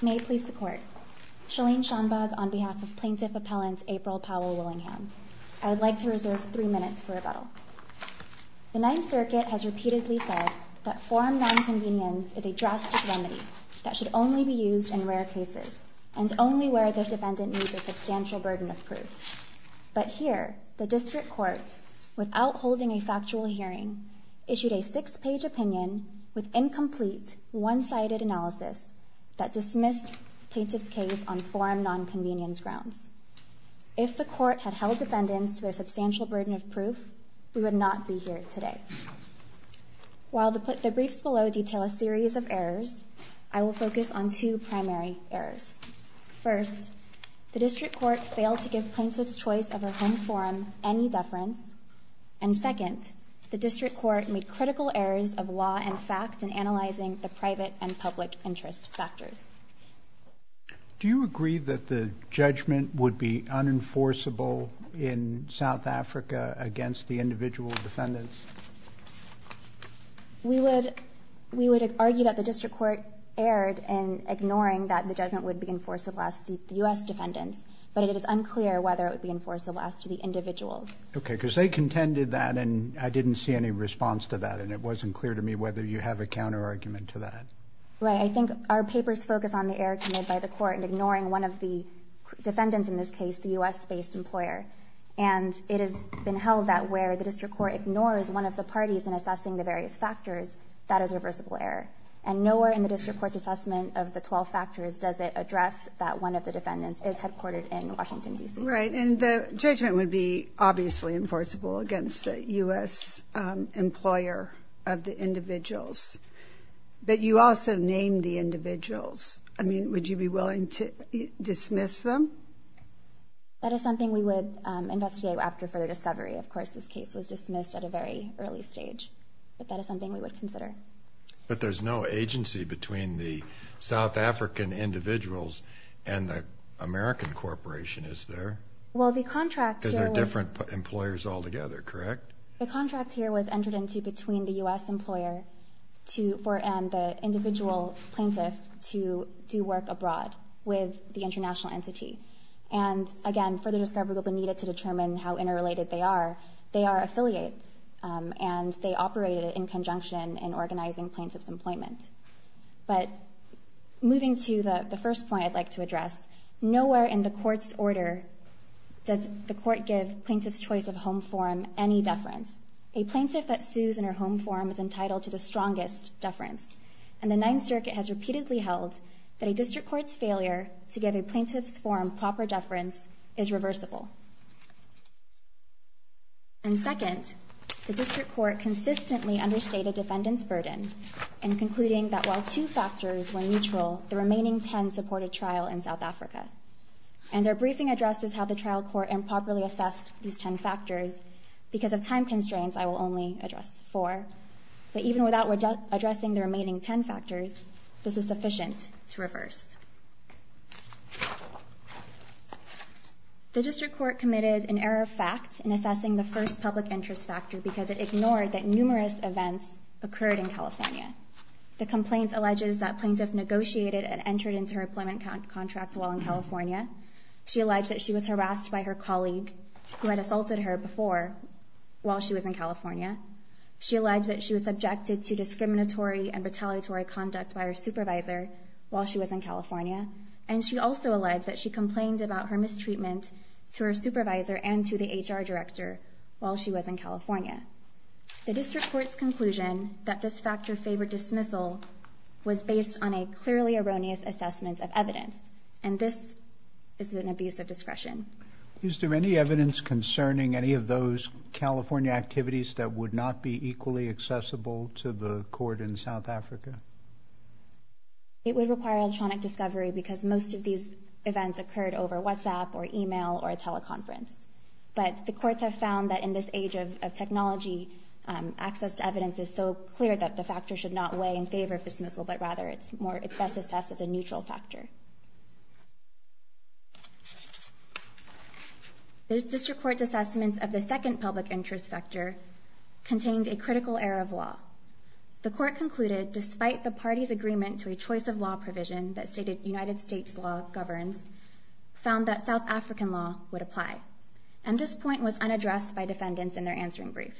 May please the court. Chalene Schaumbach on behalf of plaintiff appellant April Powell-Willingham. I would like to reserve three minutes for rebuttal. The Ninth Circuit has repeatedly said that form non-convenience is a drastic remedy that should only be used in rare cases and only where the defendant needs a substantial burden of proof. But here, the District Court, without holding a factual hearing, issued a six-page opinion with incomplete one-sided analysis that dismissed plaintiff's case on form non-convenience grounds. If the court had held defendants to their substantial burden of proof, we would not be here today. While the briefs below detail a series of errors, I will focus on two primary errors. First, the District Court failed to give plaintiffs choice of a home forum any deference. And second, the District Court made critical errors of law and facts in analyzing the private and public interest factors. Do you agree that the judgment would be unenforceable in South Africa against the individual defendants? We would we would argue that the District Court erred in ignoring that the judgment would be enforceable as to the U.S. defendants, but it is unclear whether it would be enforceable as to the individuals. Okay, because they contended that and I didn't see any response to that and it wasn't clear to me whether you have a counterargument to that. Right, I think our papers focus on the error committed by the court in ignoring one of the defendants, in this case the U.S.-based employer, and it has been held that where the District Court ignores one of the parties in assessing the various factors, that is a reversible error. And nowhere in the District Court's assessment of the 12 factors does it address that one of the defendants is headquartered in Washington, D.C. Right, and the judgment would be obviously enforceable against the U.S. employer of the individuals, but you also named the individuals. I mean, would you be willing to dismiss them? That is something we would investigate after further discovery. Of course, this case was dismissed at a very early stage, but that is something we would consider. But there's no agency between the South African individuals and the American corporation, is there? Well, the contract here was... Because they're different employers all together, correct? The contract here was entered into between the U.S. employer for the individual plaintiff to do work abroad with the international entity. And again, further discovery will be needed to determine how interrelated they are. They are affiliates, and they operated in conjunction in organizing plaintiff's employment. But moving to the first point I'd like to address, nowhere in the court's order does the court give plaintiff's choice of home form any deference. A plaintiff that sues in her home form is entitled to the strongest deference, and the Ninth Circuit has repeatedly held that a district court's failure to give a plaintiff's form proper deference is reversible. And second, the district court consistently understated defendants' burden in concluding that while two factors were at a trial in South Africa. And our briefing addresses how the trial court improperly assessed these ten factors. Because of time constraints, I will only address four. But even without addressing the remaining ten factors, this is sufficient to reverse. The district court committed an error of fact in assessing the first public interest factor because it ignored that numerous events occurred in California. The complaint alleges that plaintiff negotiated and entered into her employment contract while in California. She alleged that she was harassed by her colleague who had assaulted her before while she was in California. She alleged that she was subjected to discriminatory and retaliatory conduct by her supervisor while she was in California. And she also alleged that she complained about her mistreatment to her supervisor and to the HR director while she was in California. The district court's conclusion that this factor favored dismissal was based on a clearly erroneous assessment of evidence. And this is an abuse of discretion. Is there any evidence concerning any of those California activities that would not be equally accessible to the court in South Africa? It would require electronic discovery because most of these events occurred over WhatsApp or email or a teleconference. But the courts have found that in this age of technology, access to evidence is so clear that the factor should not weigh in favor of dismissal, but rather it's more, it's best assessed as a neutral factor. The district court's assessments of the second public interest factor contained a critical error of law. The court concluded, despite the party's agreement to a choice of law provision that stated United States law governs, found that South African law would apply. And this point was unaddressed by defendants in their answering brief.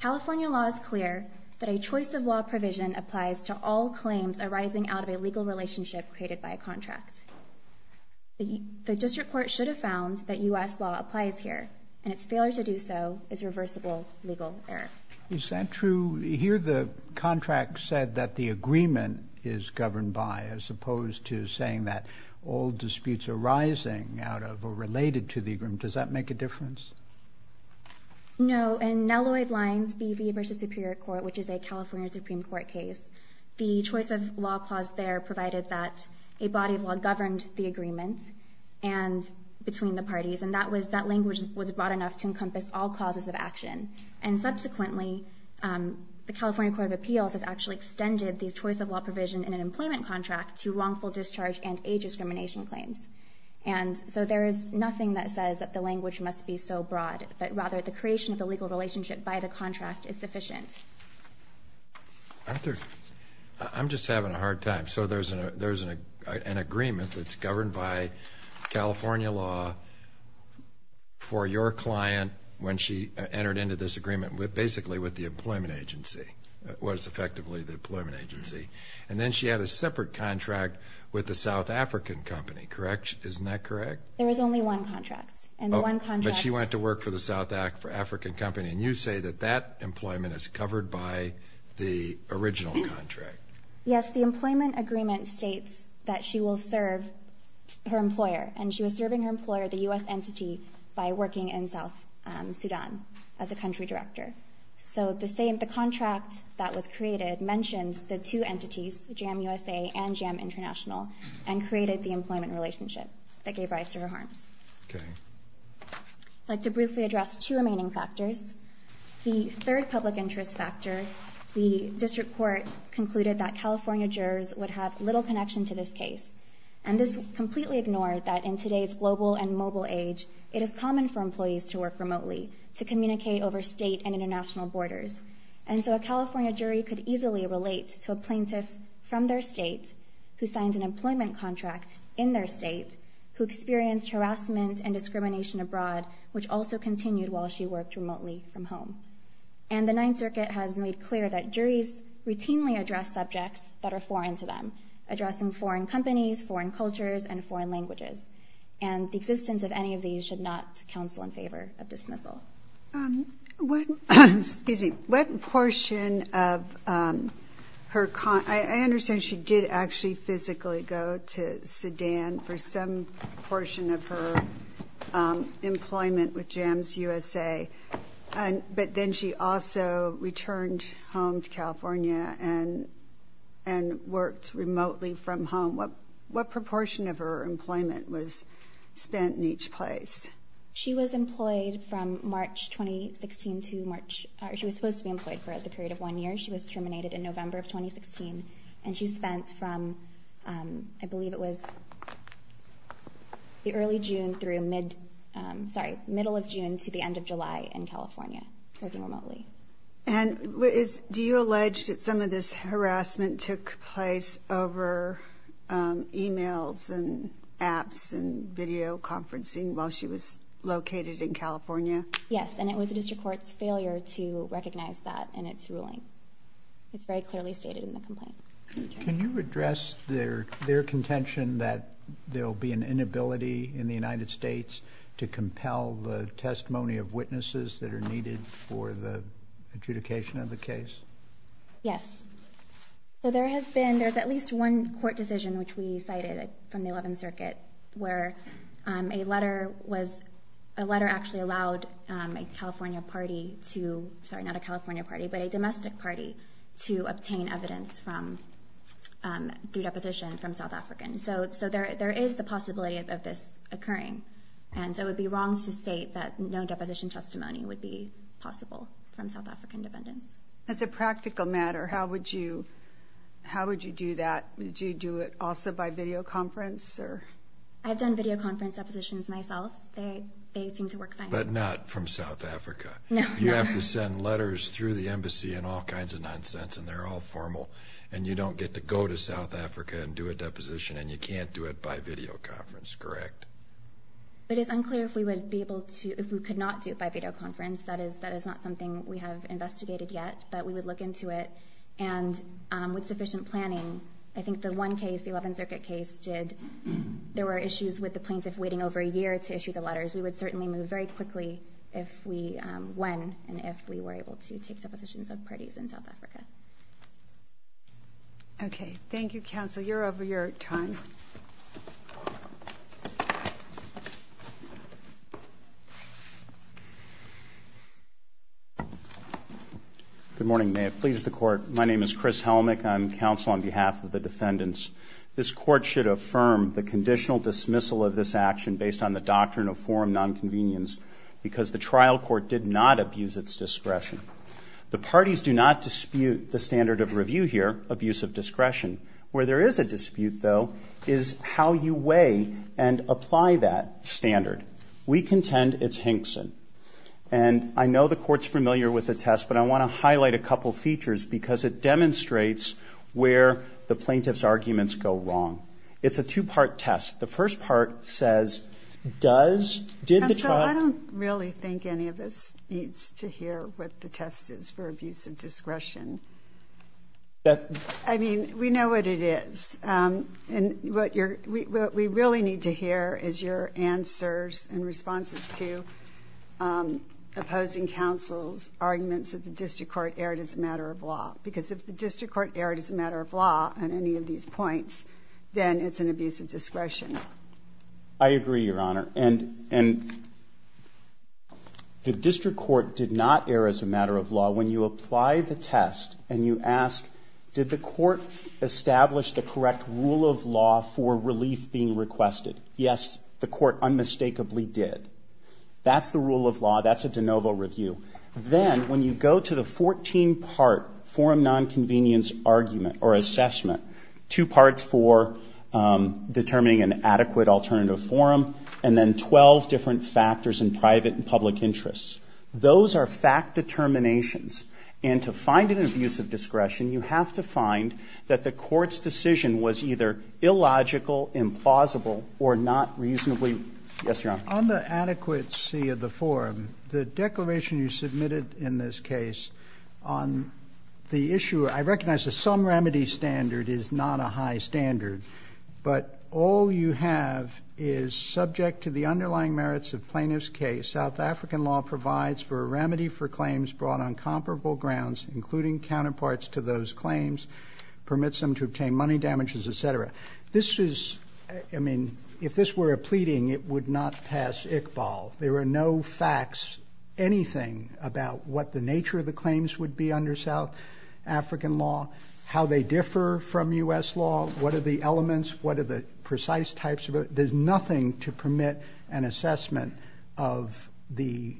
California law is clear that a choice of law provision applies to all claims arising out of a legal relationship created by a contract. The district court should have found that U.S. law applies here, and its failure to do so is reversible legal error. Is that true? Here the contract said that the agreement is governed by, as opposed to saying that all disputes arising out of or related to the agreement, does that make a difference? No. In Nelloid Lines BV v. Superior Court, which is a California Supreme Court case, the choice of law clause there provided that a body of law governed the agreement, and between the parties, and that was, that language was broad enough to encompass all clauses of action. And subsequently, the California Court of Appeals has actually extended the choice of law provision in an employment contract to wrongful discharge and age discrimination claims. And so there is nothing that says that the language must be so broad, but rather the creation of I'm just having a hard time. So there's a, there's an agreement that's governed by California law for your client when she entered into this agreement with, basically, with the employment agency, what is effectively the employment agency. And then she had a separate contract with the South African company, correct? Isn't that correct? There was only one contract, and one contract. But she went to work for the South African company, and you say that that was the original contract. Yes, the employment agreement states that she will serve her employer, and she was serving her employer, the US entity, by working in South Sudan as a country director. So the same, the contract that was created mentions the two entities, JAM USA and JAM International, and created the employment relationship that gave rise to her harms. Okay. I'd like to briefly address two remaining factors. The third public interest factor, the District Court concluded that California jurors would have little connection to this case. And this completely ignored that in today's global and mobile age, it is common for employees to work remotely to communicate over state and international borders. And so a California jury could easily relate to a plaintiff from their state who signed an employment contract in their state, who experienced harassment and discrimination abroad, which also continued while she worked remotely from home. And the Ninth Circuit has made clear that juries routinely address subjects that are foreign to them, addressing foreign companies, foreign cultures, and foreign languages. And the existence of any of these should not counsel in favor of dismissal. What portion of her, I understand she did actually physically go to Sudan for some employment with JAMS USA, but then she also returned home to California and worked remotely from home. What proportion of her employment was spent in each place? She was employed from March 2016 to March, she was supposed to be employed for the period of one year. She was terminated in November of 2016, and she spent from, I believe it was the early June through mid, sorry, middle of June to the end of July in California working remotely. And do you allege that some of this harassment took place over emails and apps and video conferencing while she was located in California? Yes, and it was a district court's failure to address their contention that there'll be an inability in the United States to compel the testimony of witnesses that are needed for the adjudication of the case? Yes, so there has been, there's at least one court decision which we cited from the Eleventh Circuit, where a letter was, a letter actually allowed a California party to, sorry not a California party, but a domestic party to obtain evidence from, through deposition from South Africans. So there is the possibility of this occurring, and so it would be wrong to state that no deposition testimony would be possible from South African defendants. As a practical matter, how would you, how would you do that? Would you do it also by videoconference? I've done videoconference depositions myself, they seem to work fine. But not from South Africa? No. You have to send letters through the embassy and all kinds of nonsense, and they're all formal, and you don't get to go to South Africa and do a deposition, and you can't do it by videoconference, correct? It is unclear if we would be able to, if we could not do it by videoconference, that is, that is not something we have investigated yet, but we would look into it, and with sufficient planning, I think the one case, the Eleventh Circuit case, did, there were issues with the plaintiff waiting over a year to issue the letters. We would certainly move very quickly if we, when, and if we were able to take depositions of parties in South Africa. Okay, thank you, counsel. You're over your time. Good morning, may it please the court. My name is Chris Helmick. I'm counsel on behalf of the defendants. This court should affirm the conditional dismissal of this action based on the doctrine of forum nonconvenience, because the trial court did not abuse its discretion. The parties do not dispute the standard of review here, abuse of discretion. Where there is a dispute, though, is how you weigh and apply that standard. We contend it's Hinkson. And I know the court's familiar with the test, but I want to highlight a couple features, because it demonstrates where the plaintiff's arguments go wrong. It's a two-part test. The first part says, does, did the trial... Counsel, I don't really think any of us needs to hear what the test is for abuse of discretion. I mean, we know what it is. And what you're, what we really need to hear is your answers and responses to opposing counsel's arguments that the district court erred as a matter of law. Because if the district court erred as a matter of law, when you apply the test and you ask, did the court establish the correct rule of law for relief being requested? Yes, the court unmistakably did. That's the rule of law. That's a de novo review. Then, when you go to the 14-part forum nonconvenience argument, or assessment, two parts for abuse of discretion and two parts for determining an adequate alternative forum, and then 12 different factors in private and public interests. Those are fact determinations. And to find an abuse of discretion, you have to find that the court's decision was either illogical, implausible, or not reasonably... Yes, Your Honor. On the adequacy of the forum, the declaration you submitted in this case on the issue, I recognize that some remedy standard is not a high standard. But all you have is, subject to the underlying merits of plaintiff's case, South African law provides for a remedy for claims brought on comparable grounds, including counterparts to those claims, permits them to obtain money damages, et cetera. This is, I mean, if this were a pleading, it would not pass Iqbal. There are no facts, anything, about what the South African law, how they differ from U.S. law, what are the elements, what are the precise types of it. There's nothing to permit an assessment of the,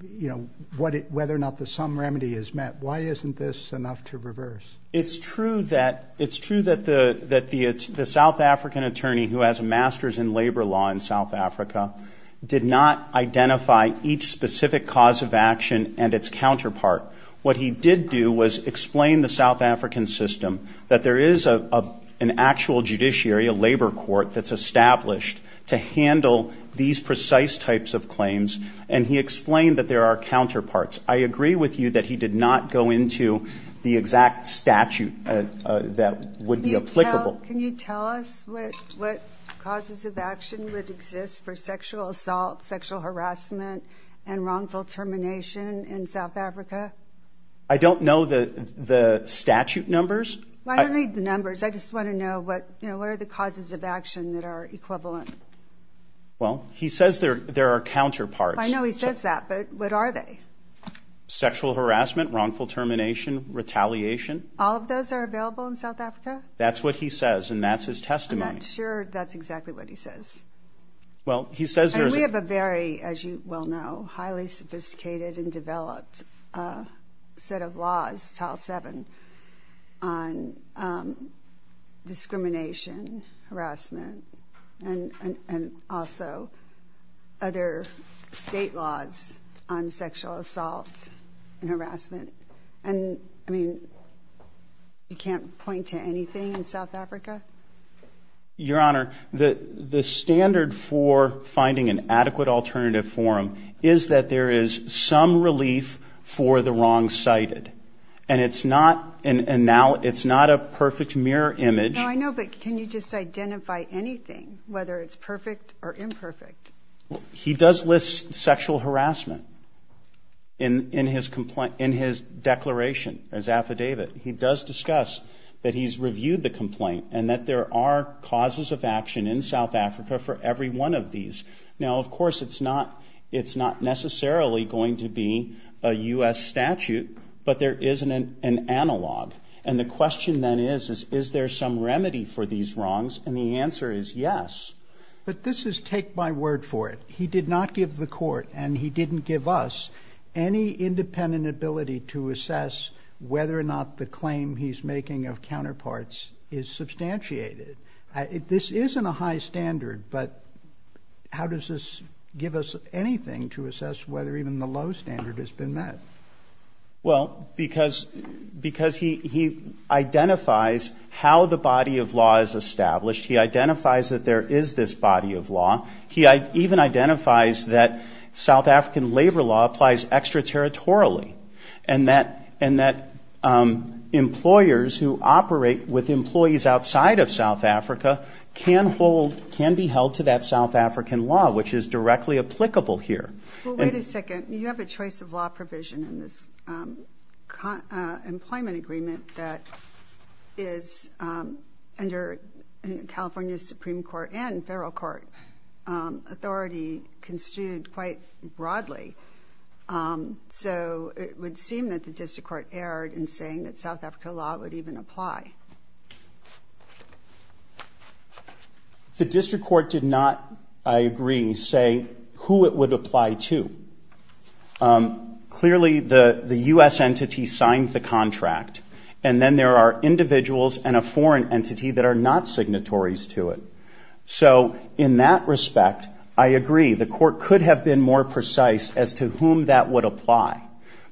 you know, whether or not the sum remedy is met. Why isn't this enough to reverse? It's true that the South African attorney who has a master's in labor law in South Africa did not identify each specific cause of action and its counterpart. What he did do was explain the South African system that there is an actual judiciary, a labor court, that's established to handle these precise types of claims. And he explained that there are counterparts. I agree with you that he did not go into the exact statute that would be applicable. Well, can you tell us what causes of action would exist for sexual assault, sexual harassment, and wrongful termination in South Africa? I don't know the statute numbers. I don't need the numbers. I just want to know what, you know, what are the causes of action that are equivalent? Well, he says there are counterparts. I know he says that, but what are they? Sexual harassment, wrongful termination, retaliation. All of those are available in South Africa? That's what he says, and that's his testimony. I'm not sure that's exactly what he says. Well, he says there is a... We have a very, as you well know, highly sophisticated and developed set of laws, Tile 7, on discrimination, harassment, and also other state laws on in South Africa? Your Honor, the standard for finding an adequate alternative forum is that there is some relief for the wrong-sighted. And it's not a perfect mirror image. No, I know, but can you just identify anything, whether it's perfect or imperfect? He does list sexual harassment in his declaration, his affidavit. He does discuss that he's reviewed the complaint and that there are causes of action in South Africa for every one of these. Now, of course, it's not necessarily going to be a U.S. statute, but there is an analog. And the question then is, is there some remedy for these wrongs? And the answer is yes. But this is take my word for it. He did not give the court, and he didn't give us, any independent ability to assess whether or not the claim he's making of counterparts is substantiated. This isn't a high standard, but how does this give us anything to assess whether even the low standard has been met? Well, because he identifies how the body of law is established. He identifies that there is this body of law. He even identifies that South African labor law applies extraterritorially. And that employers who operate with employees outside of South Africa can hold, can be held to that South African law, which is directly applicable here. Well, wait a second. You have a choice of law provision in this employment agreement that is under California's Supreme Court and federal court authority construed quite broadly. So it would seem that the district court erred in saying that South Africa law would even apply. The district court did not, I agree, say who it would apply to. Clearly, the U.S. entity signed the contract. And then there are individuals and a foreign entity that are not signatories to it. So in that respect, I agree, the court could have been more precise as to whom that would apply.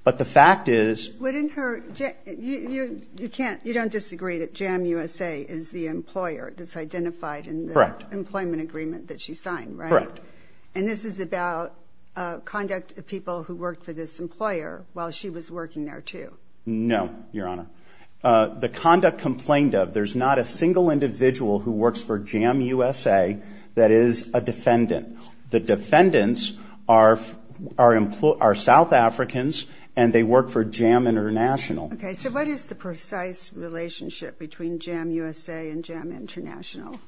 But the fact is- But in her, you can't, you don't disagree that JAM USA is the employer that's identified in the employment agreement that she signed, right? Correct. And this is about conduct of people who worked for this employer while she was working there, too. No, Your Honor. The conduct complained of, there's not a single individual who works for JAM USA that is a defendant. The defendants are South Africans, and they work for JAM International. Okay, so what is the precise relationship between JAM USA and JAM International?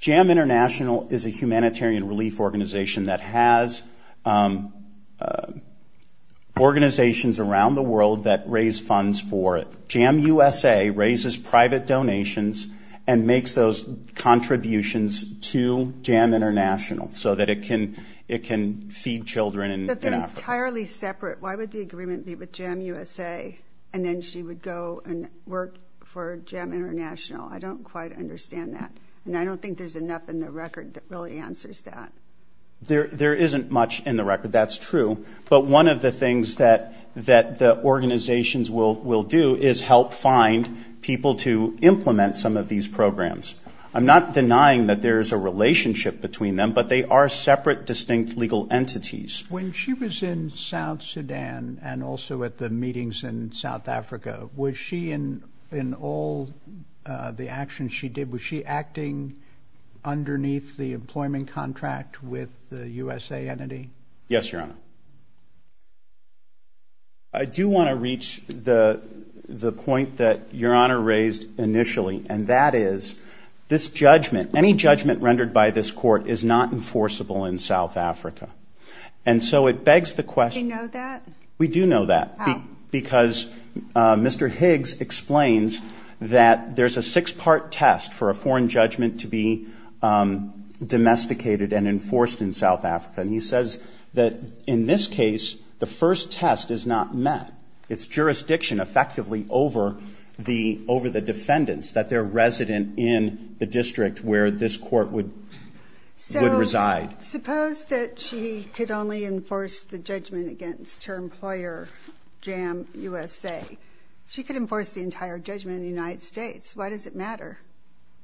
JAM International is a humanitarian relief organization that has organizations around the world that raise funds for it. JAM USA raises private donations and makes those contributions to JAM International so that it can feed children in Africa. But they're entirely separate. Why would the agreement be with JAM USA, and then she would go and work for JAM International? I don't quite understand that. And I don't think there's enough in the record that really answers that. There isn't much in the record, that's true. But one of the things that the organizations will do is help find people to implement some of these programs. I'm not denying that there's a relationship between them, but they are separate, distinct legal entities. When she was in South Sudan and also at the meetings in South Africa, was she in all the actions she did, was she acting underneath the employment contract with the USA entity? Yes, Your Honor. I do want to reach the point that Your Honor raised initially, and that is this judgment, any judgment rendered by this court is not enforceable in South Africa. And so it begs the question. Do we know that? We do know that. How? Because Mr. Higgs explains that there's a six-part test for a foreign judgment to be domesticated and enforced in South Africa. And he says that in this case, the first test is not met. It's jurisdiction, effectively, over the defendants, that they're resident in the district where this court would reside. So suppose that she could only enforce the judgment against her employer, JAM USA. She could enforce the entire judgment in the United States. Why does it matter?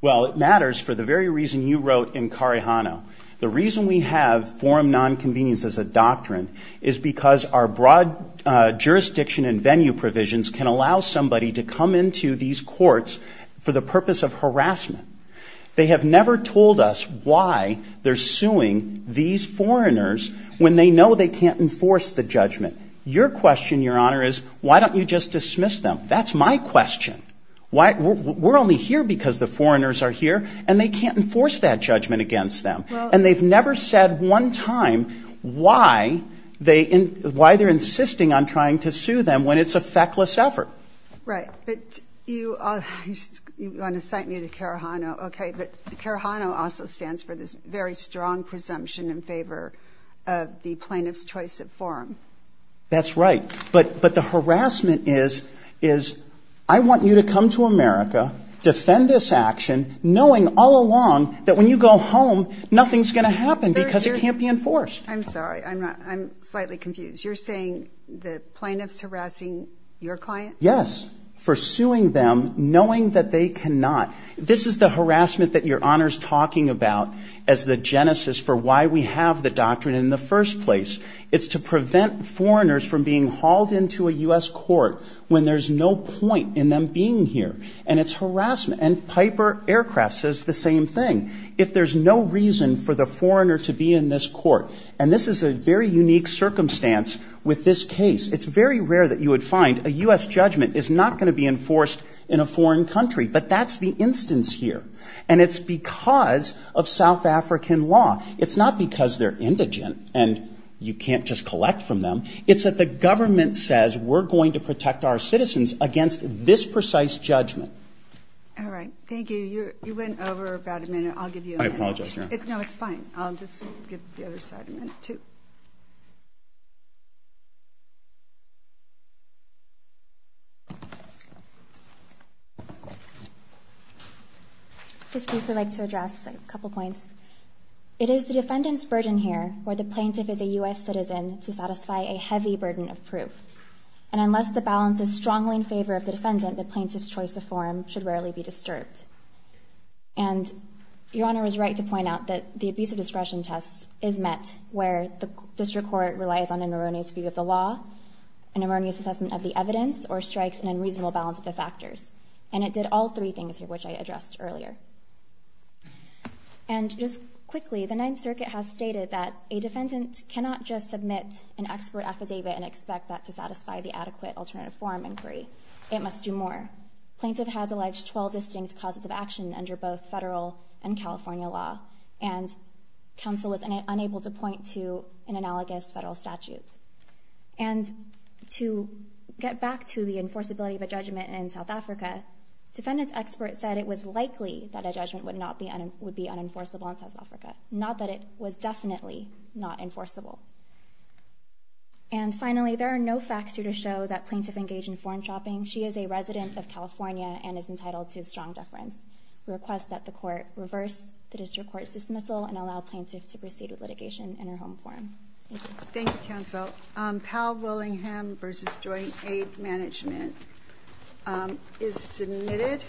Well, it matters for the very reason you wrote in Carijano. The reason we have forum nonconvenience as a doctrine is because our broad jurisdiction and venue provisions can allow somebody to come into these courts for the purpose of harassment. They have never told us why they're suing these foreigners when they know they can't enforce the judgment. Your question, Your Honor, is why don't you just dismiss them? That's my question. We're only here because the foreigners are here, and they can't enforce that judgment against them. And they've never said one time why they're insisting on trying to sue them when it's a feckless effort. Right. But you want to cite me to Carijano. Okay. But Carijano also stands for this very strong presumption in favor of the plaintiff's choice at forum. That's right. But the harassment is I want you to come to America, defend this action, knowing all along that when you go home, nothing's going to happen because it can't be enforced. I'm sorry. I'm slightly confused. You're saying the plaintiff's harassing your client? Yes. For suing them, knowing that they cannot. This is the harassment that Your Honor's talking about as the genesis for why we have the doctrine in the first place. It's to prevent foreigners from being hauled into a U.S. court when there's no point in them being here. And it's harassment. And Piper Aircraft says the same thing. If there's no reason for the foreigner to be in this court, and this is a very unique circumstance with this case, it's very rare that you would find a U.S. judgment is not going to be enforced in a foreign country. But that's the instance here. And it's because of South African law. It's not because they're indigent and you can't just collect from them. It's that the government says we're going to protect our citizens against this precise judgment. All right. Thank you. You went over about a minute. I'll give you a minute. I apologize, Your Honor. No, it's fine. I'll just give the other side a minute too. Just briefly, I'd like to address a couple points. It is the defendant's burden here where the plaintiff is a U.S. citizen to satisfy a heavy burden of proof. And unless the balance is strongly in favor of the defendant, the plaintiff's choice of forum should rarely be disturbed. And Your Honor is right to point out that the abuse of discretion test is met where the district court relies on the plaintiff. It relies on an erroneous view of the law, an erroneous assessment of the evidence, or strikes an unreasonable balance of the factors. And it did all three things here which I addressed earlier. And just quickly, the Ninth Circuit has stated that a defendant cannot just submit an expert affidavit and expect that to satisfy the adequate alternative forum inquiry. It must do more. Plaintiff has alleged 12 distinct causes of action under both federal and California law. And counsel was unable to point to an analogous federal statute. And to get back to the enforceability of a judgment in South Africa, defendant's expert said it was likely that a judgment would be unenforceable in South Africa, not that it was definitely not enforceable. And finally, there are no facts here to show that plaintiff engaged in foreign shopping. She is a resident of California and is entitled to strong deference. We request that the court reverse the district court's dismissal and allow plaintiff to proceed with litigation in her home forum. Thank you. Thank you, counsel. Powell-Willingham v. Joint Aid Management is submitted.